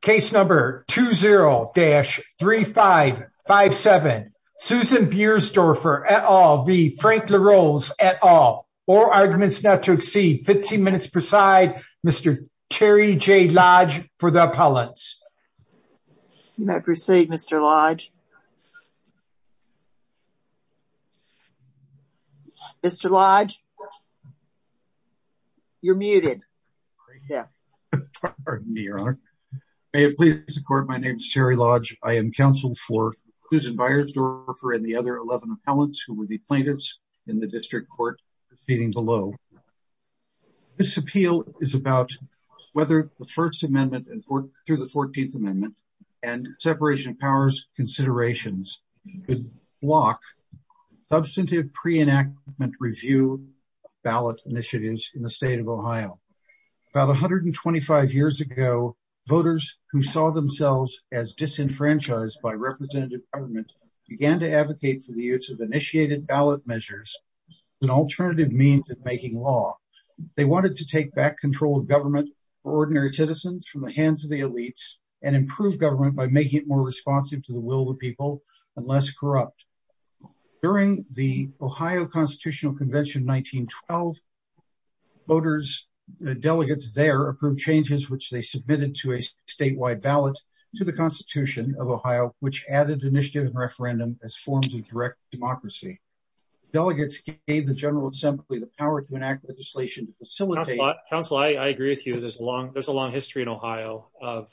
Case number 20-3557. Susan Beiersdorfer et al v. Frank LaRose et al. Four arguments not to exceed 15 minutes per side. Mr. Terry J. Lodge for the appellants. You may proceed, Mr. Lodge. Mr. Lodge? Yeah. Pardon me, Your Honor. May it please the court, my name is Terry Lodge. I am counsel for Susan Beiersdorfer and the other 11 appellants who were the plaintiffs in the district court proceeding below. This appeal is about whether the First Amendment through the 14th Amendment and separation of powers considerations could block substantive pre-enactment review ballot initiatives in the who saw themselves as disenfranchised by representative government began to advocate for the use of initiated ballot measures as an alternative means of making law. They wanted to take back control of government for ordinary citizens from the hands of the elites and improve government by making it more responsive to the will of the people and less corrupt. During the Ohio Constitutional Convention 1912, voters, the delegates there approved changes which they submitted to a statewide ballot to the Constitution of Ohio, which added initiative and referendum as forms of direct democracy. Delegates gave the General Assembly the power to enact legislation to facilitate... Counsel, I agree with you. There's a long history in Ohio of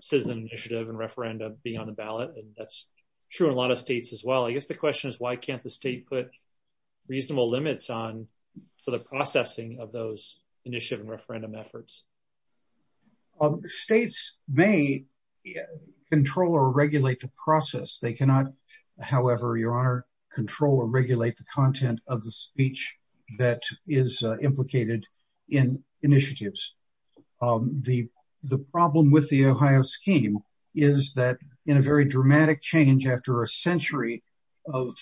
citizen initiative and referendum being on the ballot. And that's true in a lot of states as well. I guess the question is why can't the state put reasonable limits on the processing of those initiative and referendum efforts? States may control or regulate the process. They cannot, however, your honor, control or regulate the content of the speech that is implicated in initiatives. The problem with the Ohio scheme is that in a very dramatic change after a century of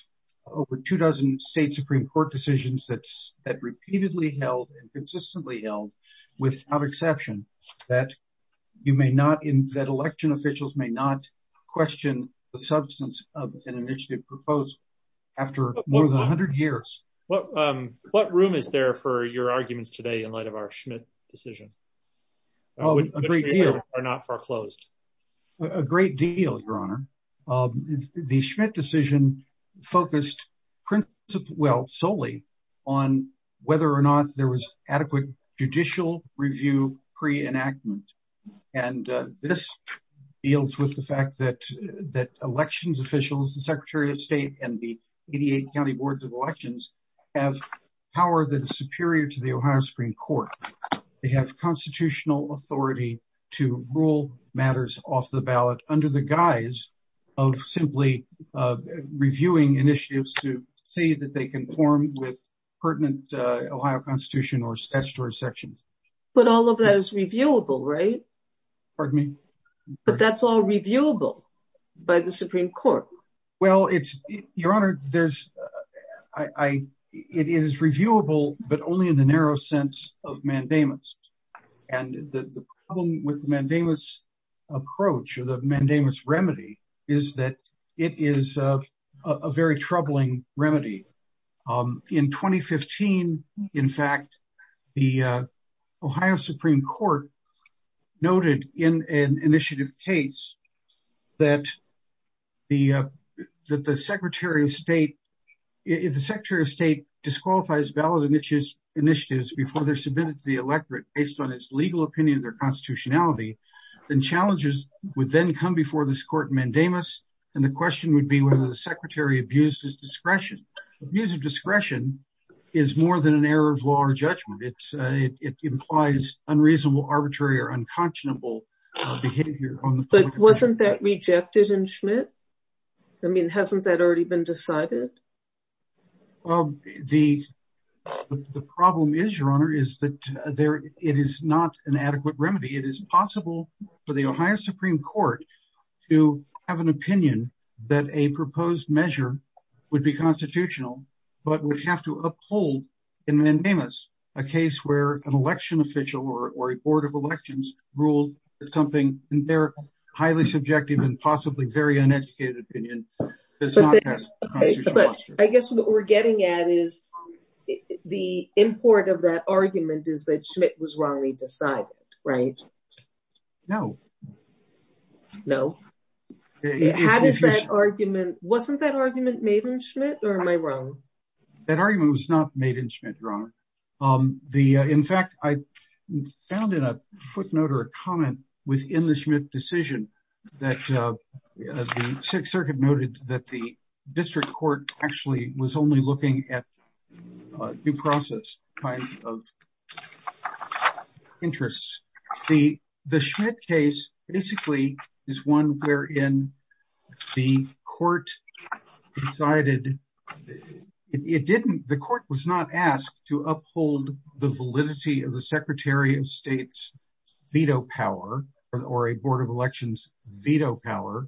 over two dozen state Supreme Court decisions that's that repeatedly held and consistently held without exception, that you may not in that election officials may not question the substance of an initiative proposed after more than 100 years. What room is there for your arguments today in light of our Schmidt decision? A great deal, your honor. The Schmidt decision focused well solely on whether or not there was adequate judicial review pre-enactment. And this deals with the fact that that elections officials, the Secretary of State and the Ohio Supreme Court, they have constitutional authority to rule matters off the ballot under the guise of simply reviewing initiatives to see that they conform with pertinent Ohio Constitution or statutory sections. But all of that is reviewable, right? Pardon me? But that's all reviewable by the Supreme Court. Well, it's your honor, it is reviewable, but only in the sense of mandamus. And the problem with the mandamus approach or the mandamus remedy is that it is a very troubling remedy. In 2015, in fact, the Ohio Supreme Court noted in an initiative case that the Secretary of State, if the Secretary of State disqualifies ballot initiatives before they're submitted to the electorate based on its legal opinion of their constitutionality, then challenges would then come before this court mandamus. And the question would be whether the Secretary abused his discretion. Abuse of discretion is more than an error of law or that rejected in Schmidt. I mean, hasn't that already been decided? Well, the problem is, your honor, is that it is not an adequate remedy. It is possible for the Ohio Supreme Court to have an opinion that a proposed measure would be constitutional, but would have to uphold in mandamus, a case where an election official or a board of elections ruled something, and they're highly subjective and possibly very uneducated opinion. I guess what we're getting at is the import of that argument is that Schmidt was wrongly decided, right? No. No. How does that argument, wasn't that argument made in Schmidt or am I wrong? That argument was not made in Schmidt, your honor. In fact, I found in a footnote or a comment within the Schmidt decision that the Sixth Circuit noted that the district court actually was only looking at due process kinds of interests. The Schmidt case basically is one wherein the court decided, it didn't, the court was not asked to uphold the validity of the Secretary of State's veto power or a board of elections veto power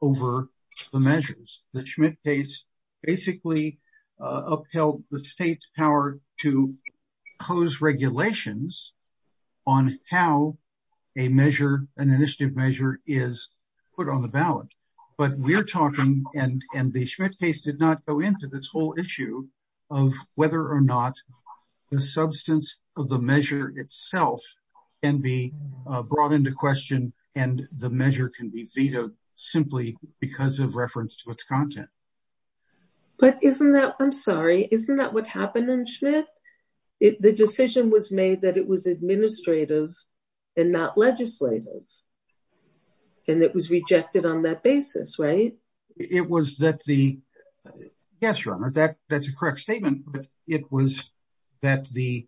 over the measures. The Schmidt case basically upheld the state's power to pose regulations on how a measure, an initiative measure is put on the ballot. But we're talking, and the Schmidt case did not go into this whole issue of whether or not the substance of the measure itself can be brought into question and the measure can be vetoed simply because of reference to its content. But isn't that, I'm sorry, isn't that what happened in Schmidt? The decision was made that it was administrative and not legislative and it was rejected on that basis, right? It was that the, yes, your honor, that that's a correct statement, but it was that the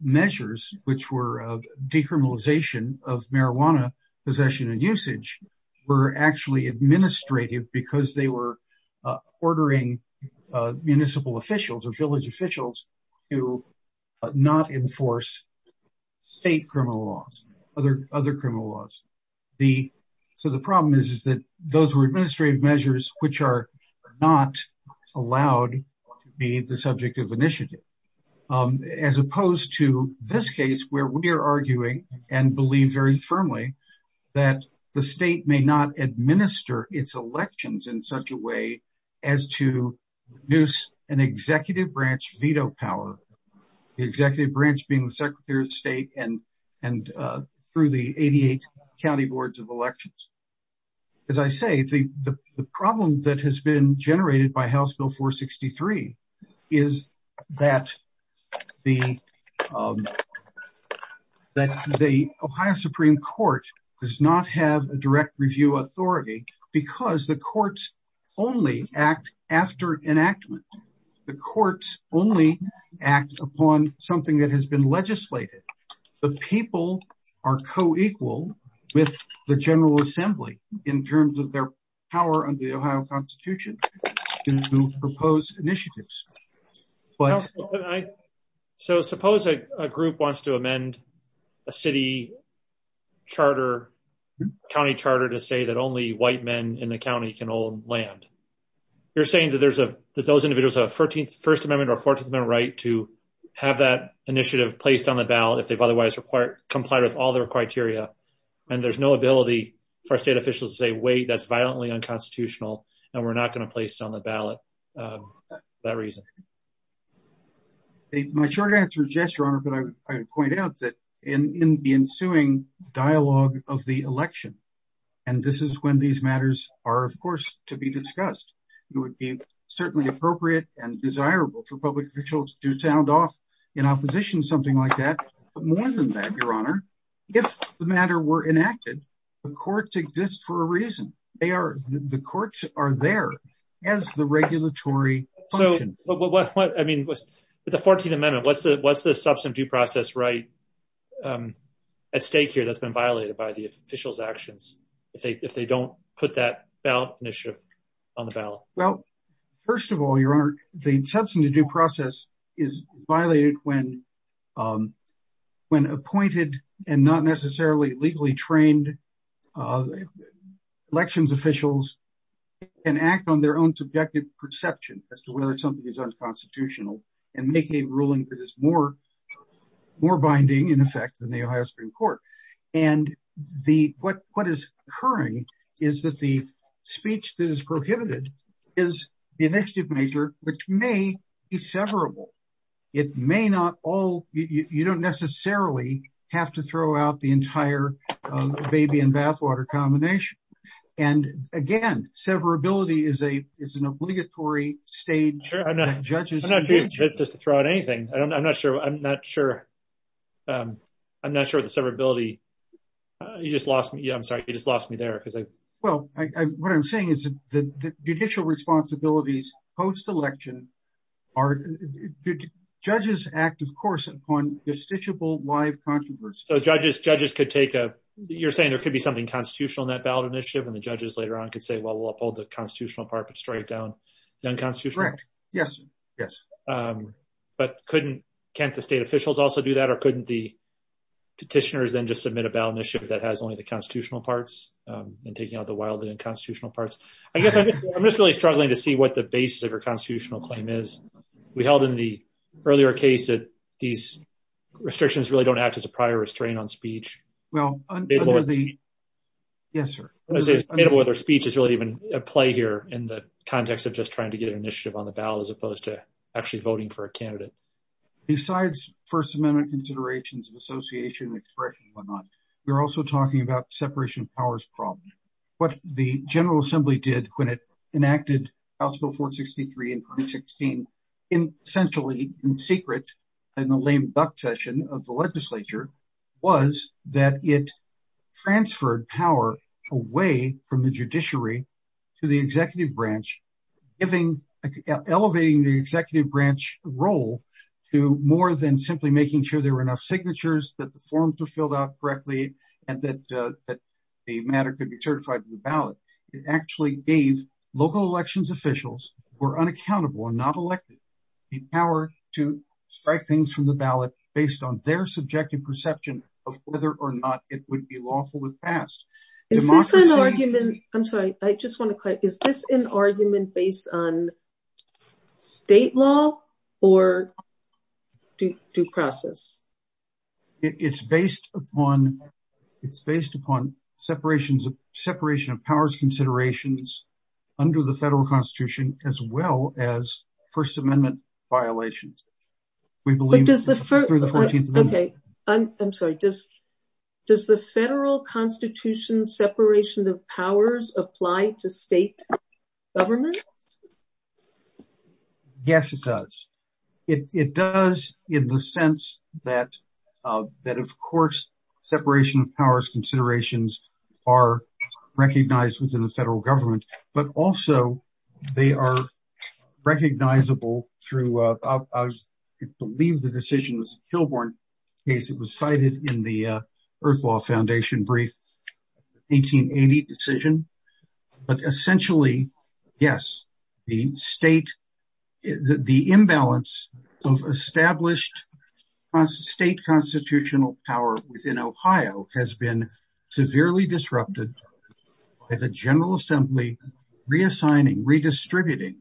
measures which were decriminalization of marijuana possession and usage were actually administrative because they were ordering municipal officials or village officials to not enforce state criminal laws, other criminal laws. The, so the problem is that those were administrative measures which are not allowed to be the subject of initiative as opposed to this case where we are arguing and believe very firmly that the state may not administer its elections in such a way as to produce an executive branch veto power, the executive branch being the secretary of state and through the 88 county boards of elections. As I say, the problem that has been generated by House Bill 463 is that the Ohio Supreme Court does not have a direct review authority because the courts only act after enactment. The courts only act upon something that has been legislated. The people are co-equal with the General Assembly in terms of their power under the Ohio Constitution to propose initiatives. So suppose a group wants to amend a city charter, county charter, to say that only white men in the county can own land. You're saying that there's a, that those individuals have a 14th, First Amendment or 14th Amendment right to have that initiative placed on the ballot if they've otherwise required, comply with all their criteria and there's no ability for state officials to say, wait, that's violently unconstitutional and we're not going to place on the ballot for that reason. My short answer is yes, Your Honor, but I would point out that in the ensuing dialogue of the election, and this is when these matters are, of course, to be discussed, it would be certainly appropriate and desirable for public officials to sound off in opposition, something like that. But more than that, Your Honor, if the matter were enacted, the courts exist for a reason. The courts are there as the regulatory function. So what, I mean, with the 14th Amendment, what's the substantive due process right at stake here that's been violated by the officials' actions if they don't put that ballot initiative on the ballot? Well, first of all, Your Honor, the substantive due process is violated when appointed and not necessarily legally trained elections officials can act on their own subjective perception as to whether something is unconstitutional and make a ruling that is more, more binding in effect than the Ohio Supreme Court. And the, what is occurring is that the speech that is prohibited is the initiative measure which may be severable. It may not all, you don't necessarily have to throw out the entire baby and bathwater combination. And again, severability is a, is an obligatory stage. Sure, I'm not, I'm not here to throw out anything. I'm not sure, I'm not sure, I'm not sure the severability, you just lost me, I'm sorry, you just lost me there. Well, what I'm saying is that the judicial responsibilities post-election are, judges act, of course, upon destitutable live controversy. Judges could take a, you're saying there could be something constitutional in that ballot initiative and the judges later on could say, well, we'll uphold the constitutional part, but strike down the unconstitutional. Correct, yes, yes. But couldn't, can't the state officials also do that or couldn't the petitioners then just submit a ballot initiative that has only the constitutional parts and taking out the wildly unconstitutional parts? I guess I'm just really struggling to see what the basis of your constitutional claim is. We held in the earlier case that these restrictions really don't act as a prior restraint on speech. Well, under the, yes, sir. I was going to say, made of whether speech is really even a play here in the context of just trying to get an initiative on the ballot as opposed to actually voting for a candidate. Besides first amendment considerations of association and expression and whatnot, we're also talking about separation of powers problem. What the general assembly did when it enacted House Bill 463 in 2016, in essentially in secret in the lame duck session of the legislature was that it transferred power away from the judiciary to the executive branch, giving, elevating the executive branch role to more than simply making sure there were enough signatures that the forms were filled out correctly and that the matter could be certified to the ballot. It actually gave local elections officials who were unaccountable and not elected the power to strike things from the ballot based on their subjective perception of whether or not it would be lawful in the past. Is this an argument? I'm sorry, I just want to quit. Is this an argument based on state law or due process? It's based upon separation of powers considerations under the federal constitution, as well as first amendment violations. I'm sorry, does the federal constitution separation of powers apply to state government? Yes, it does. It does in the sense that, of course, separation of powers considerations are recognized within the federal government, but also they are recognizable through, I believe the decision was a Kilbourne case. It was cited in the Earth Law Foundation brief, 1880 decision, but essentially, yes, the state, the imbalance of established state constitutional power within Ohio has been severely disrupted by the General Assembly, reassigning, redistributing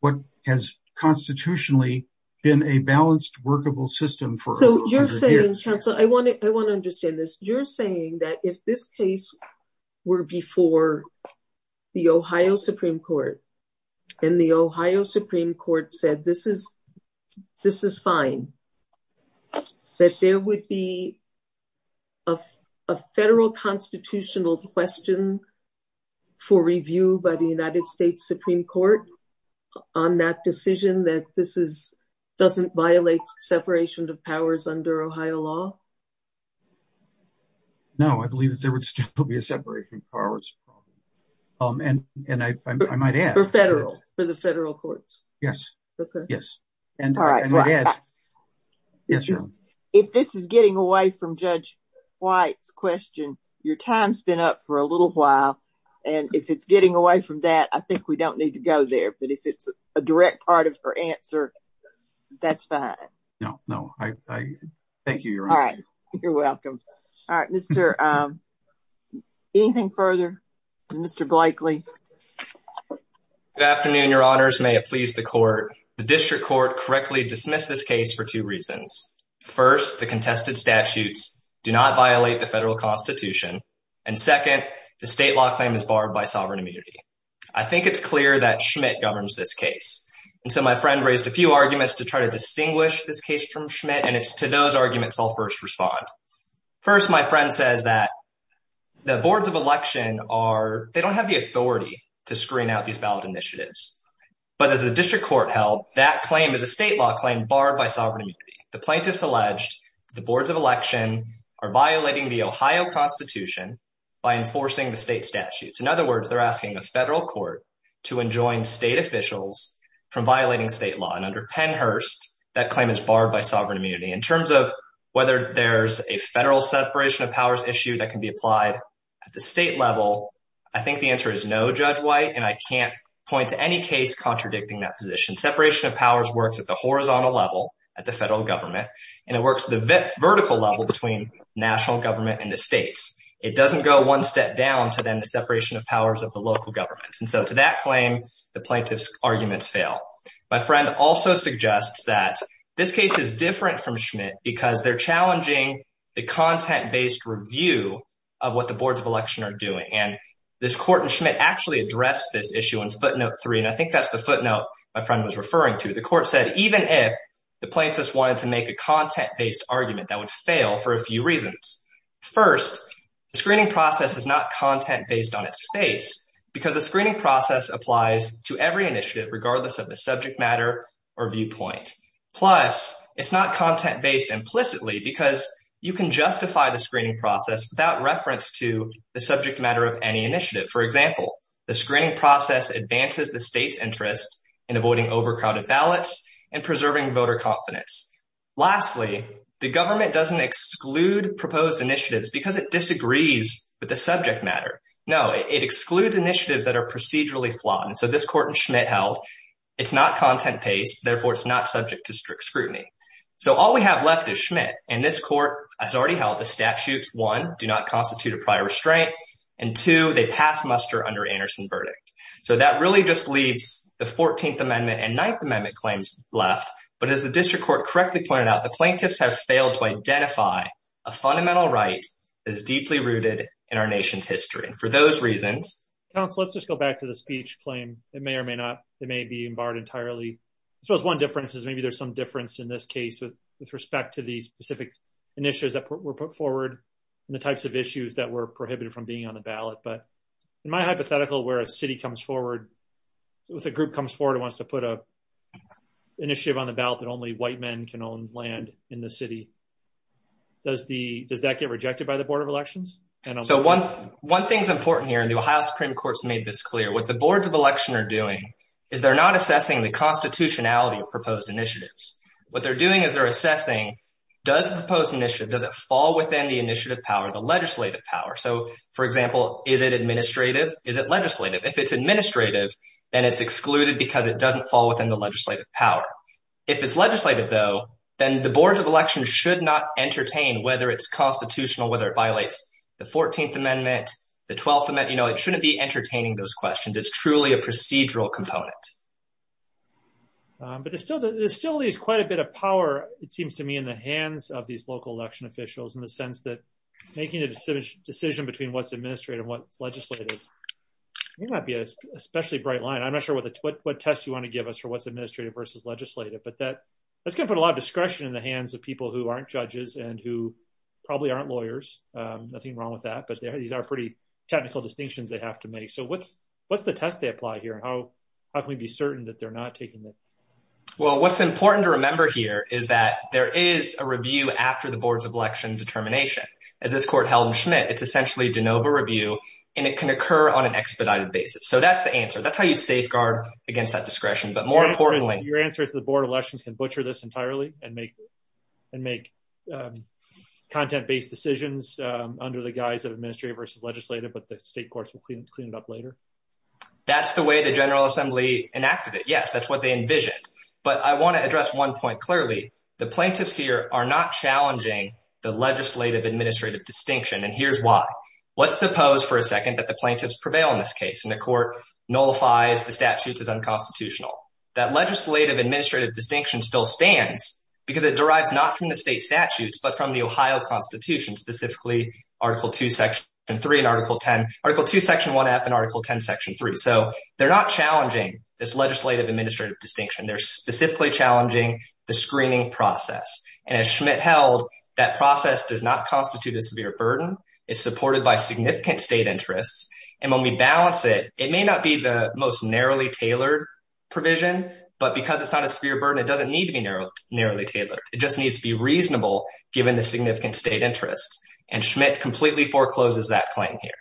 what has constitutionally been a balanced workable system. So you're saying, counsel, I want to understand this. You're saying that if this case were before the Ohio Supreme Court and the Ohio Supreme Court said, this is fine, that there would be a federal constitutional question for review by the United States Supreme Court on that decision that this doesn't violate separation of powers under Ohio law? No, I believe that there would still be a separation of powers, and I might add- For federal, for the federal courts? Yes, yes, and I would add- All right, if this is getting away from Judge White's question, your time's been up for a little while, and if it's getting away from that, I think we don't need to go there, but if it's a direct part of her answer, that's fine. No, no, I, thank you, Your Honor. You're welcome. All right, Mr., anything further? Mr. Blakely? Good afternoon, Your Honors, may it please the court. The district court correctly dismissed this case for two reasons. First, the contested statutes do not violate the federal constitution, and second, the state law claim is barred by sovereign immunity. I think it's clear that Schmidt governs this case, and so my friend raised a few arguments to try to distinguish this case from Schmidt, and it's to those arguments I'll first respond. First, my friend says that the boards of election are, they don't have the authority to screen out these ballot initiatives, but as the district court held, that claim is a state law claim barred by sovereign immunity. The plaintiffs alleged the boards of election are violating the Ohio constitution by enforcing the state statutes. In other words, they're asking the federal court to enjoin state officials from violating state law, and under Pennhurst, that claim is barred by sovereign immunity. In terms of whether there's a federal separation of powers issue that can be applied at the state level, I think the answer is no, Judge White, and I can't point to any case contradicting that position. Separation of powers works at the horizontal level at the federal government, and it works the vertical level between national government and the states. It doesn't go one step down to then the separation of powers of the local governments, and so to that claim, the plaintiff's arguments fail. My friend also suggests that this case is different from Schmidt because they're challenging the content-based review of what the boards of election are doing, and this court in Schmidt actually addressed this issue in footnote three, and I think that's the footnote my friend was referring to. The court said even if the plaintiffs wanted to make a content-based argument, that would fail for a few reasons. First, the screening process is not content-based on its face because the screening process applies to every initiative regardless of the subject matter or viewpoint. Plus, it's not content-based implicitly because you can justify the screening process without reference to the subject matter of any initiative. For example, the screening process advances the state's interest in avoiding overcrowded ballots and preserving voter confidence. Lastly, the government doesn't exclude proposed initiatives because it No, it excludes initiatives that are procedurally flawed, and so this court in Schmidt held it's not content-based, therefore it's not subject to strict scrutiny. So all we have left is Schmidt, and this court has already held the statutes, one, do not constitute a prior restraint, and two, they pass muster under Anderson verdict. So that really just leaves the 14th amendment and 9th amendment claims left, but as the district court correctly pointed out, the plaintiffs have failed to identify a fundamental right that is deeply rooted in our nation's history. For those reasons, counsel, let's just go back to the speech claim. It may or may not, it may be barred entirely. I suppose one difference is maybe there's some difference in this case with respect to the specific initiatives that were put forward and the types of issues that were prohibited from being on the ballot. But in my hypothetical, where a city comes forward with a group comes forward and wants to put an initiative on the ballot that only white men can own land in the city, does that get rejected by the board of elections? So one thing's important here, and the Ohio Supreme Court's made this clear. What the boards of election are doing is they're not assessing the constitutionality of proposed initiatives. What they're doing is they're assessing does the proposed initiative, does it fall within the initiative power, the legislative power? So for example, is it administrative? Is it legislative? If it's administrative, then it's excluded because it doesn't fall within the legislative power. If it's legislative though, then the boards of election should not entertain whether it's constitutional, whether it violates the 14th amendment, the 12th amendment, you know, it shouldn't be entertaining those questions. It's truly a procedural component. But there still is quite a bit of power, it seems to me, in the hands of these local election officials in the sense that making a decision between what's administrative and what's legislative might be an especially bright line. I'm not sure what test you want to give us for what's administrative versus legislative, but that's going to put a lot in the hands of people who aren't judges and who probably aren't lawyers. Nothing wrong with that, but these are pretty technical distinctions they have to make. So what's the test they apply here? How can we be certain that they're not taking this? Well, what's important to remember here is that there is a review after the boards of election determination. As this court held in Schmidt, it's essentially de novo review, and it can occur on an expedited basis. So that's the answer. That's how you safeguard against that discretion. But more importantly, your answer is that the board of elections can butcher this entirely and make content-based decisions under the guise of administrative versus legislative, but the state courts will clean it up later. That's the way the General Assembly enacted it. Yes, that's what they envisioned. But I want to address one point clearly. The plaintiffs here are not challenging the legislative-administrative distinction, and here's why. Let's suppose for a second that the plaintiffs prevail in this case, and the court nullifies the statutes as unconstitutional. That legislative-administrative distinction still stands because it derives not from the state statutes but from the Ohio Constitution, specifically Article 2, Section 1F and Article 10, Section 3. So they're not challenging this legislative-administrative distinction. They're specifically challenging the screening process, and as Schmidt held, that process does not constitute a severe burden. It's supported by significant state interests, and when we balance it, it may not be the most narrowly tailored provision, but because it's not a severe burden, it doesn't need to be narrowly tailored. It just needs to be reasonable given the significant state interests, and Schmidt completely forecloses that claim here.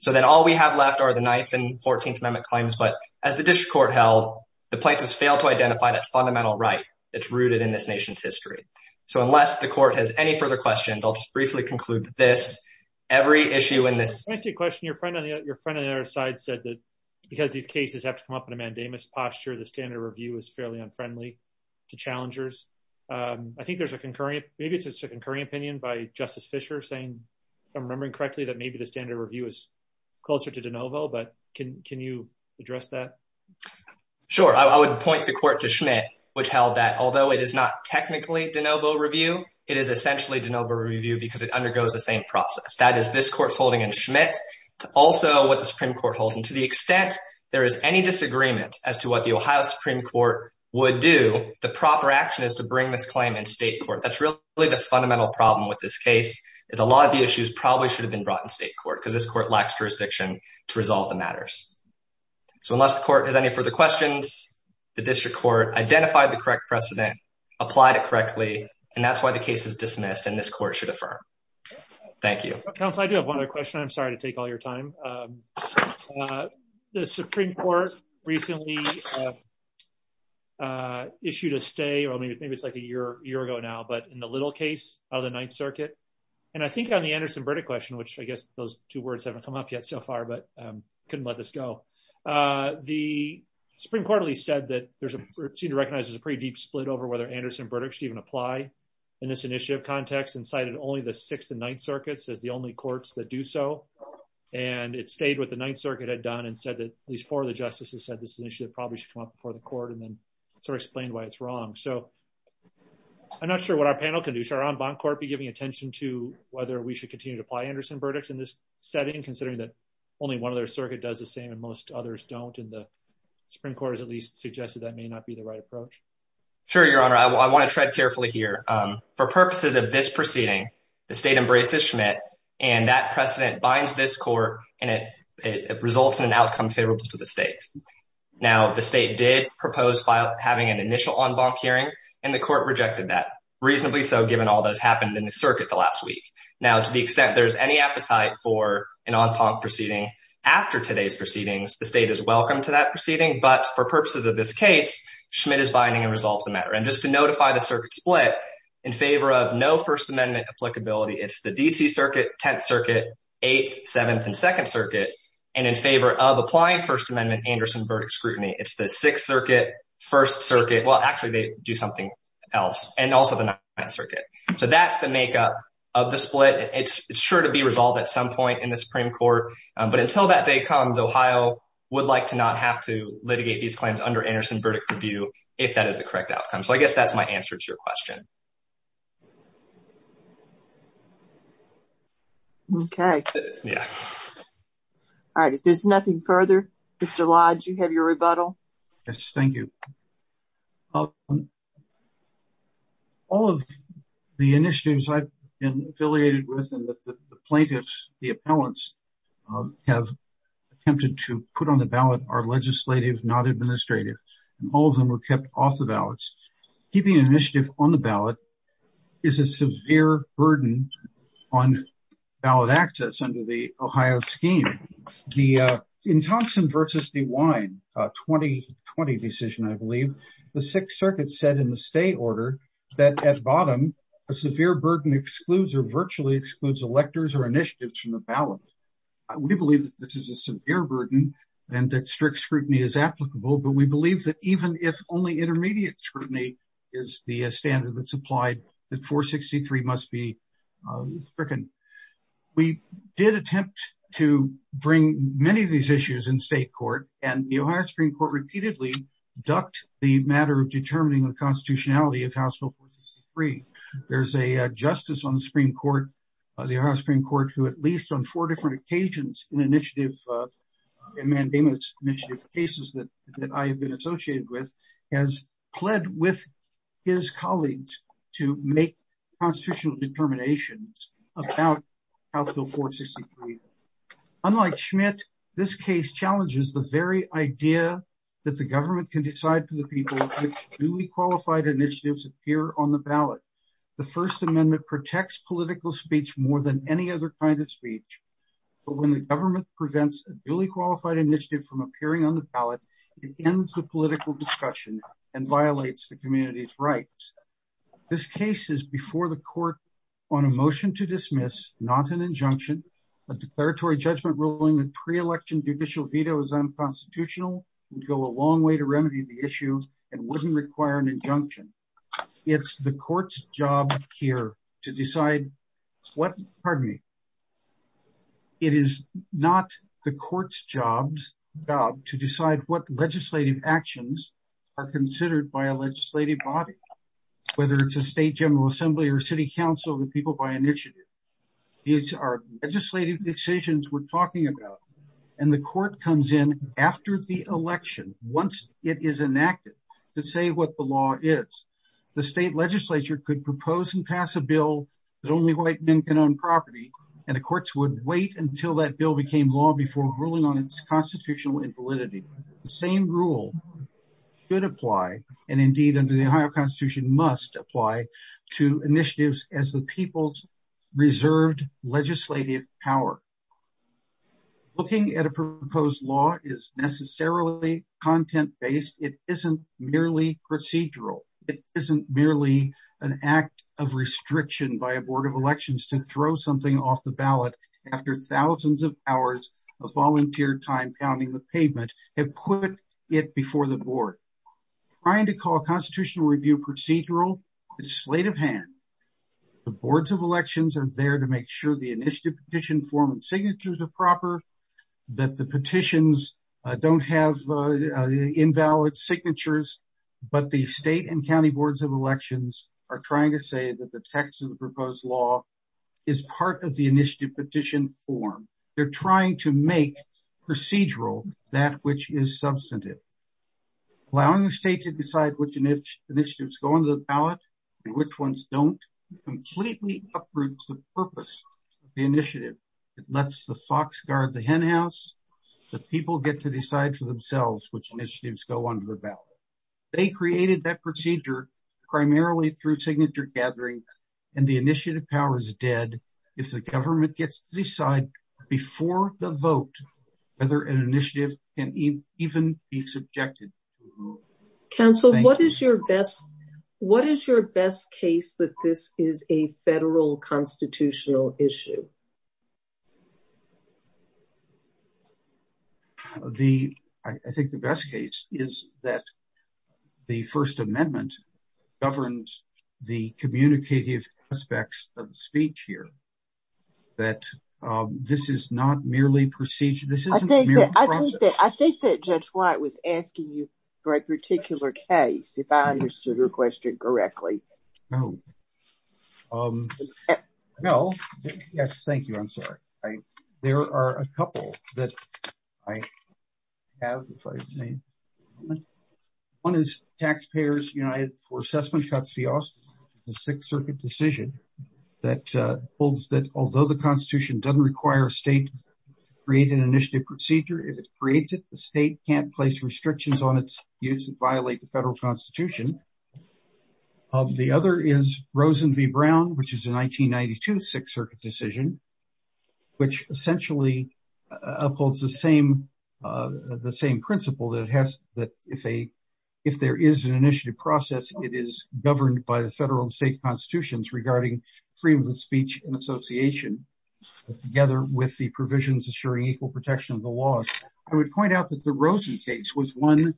So then all we have left are the Ninth and Fourteenth Amendment claims, but as the district court held, the plaintiffs failed to identify that fundamental right that's rooted in this nation's history. So unless the court has any further questions, I'll just briefly conclude this. Every issue in this — because these cases have to come up in a mandamus posture, the standard review is fairly unfriendly to challengers. I think there's a concurrent — maybe it's a concurring opinion by Justice Fischer saying, if I'm remembering correctly, that maybe the standard review is closer to de novo, but can you address that? Sure. I would point the court to Schmidt, which held that although it is not technically de novo review, it is essentially de novo review because it undergoes the same process. That is, this court holds, and to the extent there is any disagreement as to what the Ohio Supreme Court would do, the proper action is to bring this claim in state court. That's really the fundamental problem with this case, is a lot of the issues probably should have been brought in state court because this court lacks jurisdiction to resolve the matters. So unless the court has any further questions, the district court identified the correct precedent, applied it correctly, and that's why the case is dismissed, and this court should affirm. Thank you. Counsel, I do have one other question. I'm sorry to take all your time. The Supreme Court recently issued a stay, or maybe it's like a year ago now, but in the little case of the Ninth Circuit, and I think on the Anderson-Burdick question, which I guess those two words haven't come up yet so far, but couldn't let this go, the Supreme Court at least said that there's a — seemed to recognize there's a pretty deep split over whether Anderson-Burdick should even So I'm not sure what our panel can do. Should our en banc court be giving attention to whether we should continue to apply Anderson-Burdick in this setting, considering that only one of their circuit does the same and most others don't, and the Supreme Court has at least suggested that may not be the right approach? Sure, Your Honor. I want to tread carefully here. For purposes of this proceeding, the state embraces Schmidt, and that precedent binds this court, and it results in an outcome favorable to the state. Now, the state did propose having an initial en banc hearing, and the court rejected that, reasonably so given all that's happened in the circuit the last week. Now, to the extent there's any appetite for an en banc proceeding after today's proceedings, the state is welcome to that proceeding, but for purposes of this case, Schmidt is binding and resolves the matter. And just to notify the circuit split, in favor of no First Amendment applicability, it's the D.C. Circuit, Tenth Circuit, Eighth, Seventh, and Second Circuit, and in favor of applying First Amendment Anderson-Burdick scrutiny, it's the Sixth Circuit, First Circuit — well, actually, they do something else — and also the Ninth Circuit. So that's the makeup of the split. It's sure to be resolved at some point in the Supreme Court, but until that day comes, Ohio would like to not have to litigate these if that is the correct outcome. So, I guess that's my answer to your question. Okay. All right. If there's nothing further, Mr. Lodge, you have your rebuttal. Yes, thank you. All of the initiatives I've been affiliated with and that the plaintiffs, the appellants, have attempted to put on the ballot are legislative, not administrative, and all of them were kept off the ballots. Keeping an initiative on the ballot is a severe burden on ballot access under the Ohio scheme. In Thompson v. DeWine, a 2020 decision, I believe, the Sixth Circuit said in the state order that at bottom, a severe burden excludes or virtually excludes electors or initiatives from the ballot. We believe that this is a severe burden and that even if only intermediate scrutiny is the standard that's applied, that 463 must be stricken. We did attempt to bring many of these issues in state court and the Ohio Supreme Court repeatedly ducked the matter of determining the constitutionality of House Bill 463. There's a justice on the Supreme Court, the Ohio Supreme Court, who at least on four different occasions in Mandamus' initiative cases that I have been associated with, has pled with his colleagues to make constitutional determinations about House Bill 463. Unlike Schmidt, this case challenges the very idea that the government can decide for the people which duly qualified initiatives appear on the ballot. The First Amendment protects political speech more than any other kind of speech, but when the government prevents a duly qualified initiative from appearing on the ballot, it ends the political discussion and violates the community's rights. This case is before the court on a motion to dismiss, not an injunction, a declaratory judgment ruling that pre-election judicial veto is unconstitutional, would go a long way to remedy the issue, and wouldn't require an injunction. It's the court's job here to decide what legislative actions are considered by a legislative body, whether it's a state general assembly or city council, the people by initiative. These are legislative decisions we're talking about and the court comes in after the election, once it is enacted, to say what the law is. The state legislature could propose and pass a bill that only white men can own property, and the courts would wait until that bill became law before ruling on its constitutional invalidity. The same rule should apply, and indeed under the Ohio Constitution, must apply to initiatives as the people's reserved legislative power. Looking at a proposed law is necessarily content-based, it isn't merely procedural, it isn't merely an act of restriction by a board of elections to throw something off the ballot after thousands of hours of volunteer time pounding the pavement have put it before the board. Trying to call a constitutional review procedural is a slate of hands. The boards of form and signatures are proper, that the petitions don't have invalid signatures, but the state and county boards of elections are trying to say that the text of the proposed law is part of the initiative petition form. They're trying to make procedural that which is substantive. Allowing the state to decide which initiatives go into the ballot and which ones don't completely uproots the purpose of the initiative. It lets the fox guard the hen house, the people get to decide for themselves which initiatives go under the ballot. They created that procedure primarily through signature gathering, and the initiative power is dead if the government gets to decide before the vote whether an initiative can even be subjected. Council, what is your best case that this is a federal constitutional issue? I think the best case is that the first amendment governs the communicative aspects of the speech here, that this is not merely procedural. I think that Judge White was asking you for a particular case, if I understood her question correctly. No. Yes, thank you. I'm sorry. There are a couple that I have. One is taxpayers united for assessment cuts, the sixth circuit decision that holds that although the constitution doesn't state create an initiative procedure, if it creates it, the state can't place restrictions on its use and violate the federal constitution. The other is Rosen v. Brown, which is a 1992 sixth circuit decision, which essentially upholds the same principle that if there is an initiative process, it is governed by the federal and state constitutions regarding freedom of speech and with the provisions assuring equal protection of the laws. I would point out that the Rosen case was one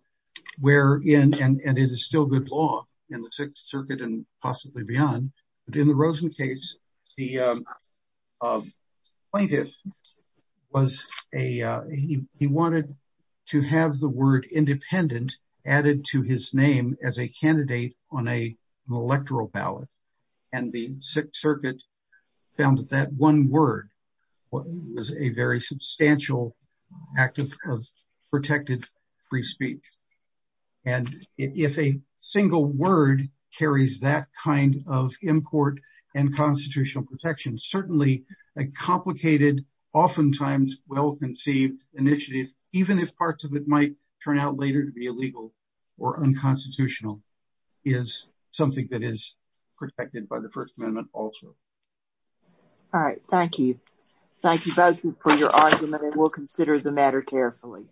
where, and it is still good law in the sixth circuit and possibly beyond, but in the Rosen case, the plaintiff, he wanted to have the word independent added to his name as a candidate on an electoral ballot. The sixth circuit found that that one word was a very substantial act of protected free speech. If a single word carries that kind of import and constitutional protection, certainly a complicated, oftentimes well-conceived initiative, even if parts of it is something that is protected by the first amendment also. All right. Thank you. Thank you both for your argument and we'll consider the matter carefully.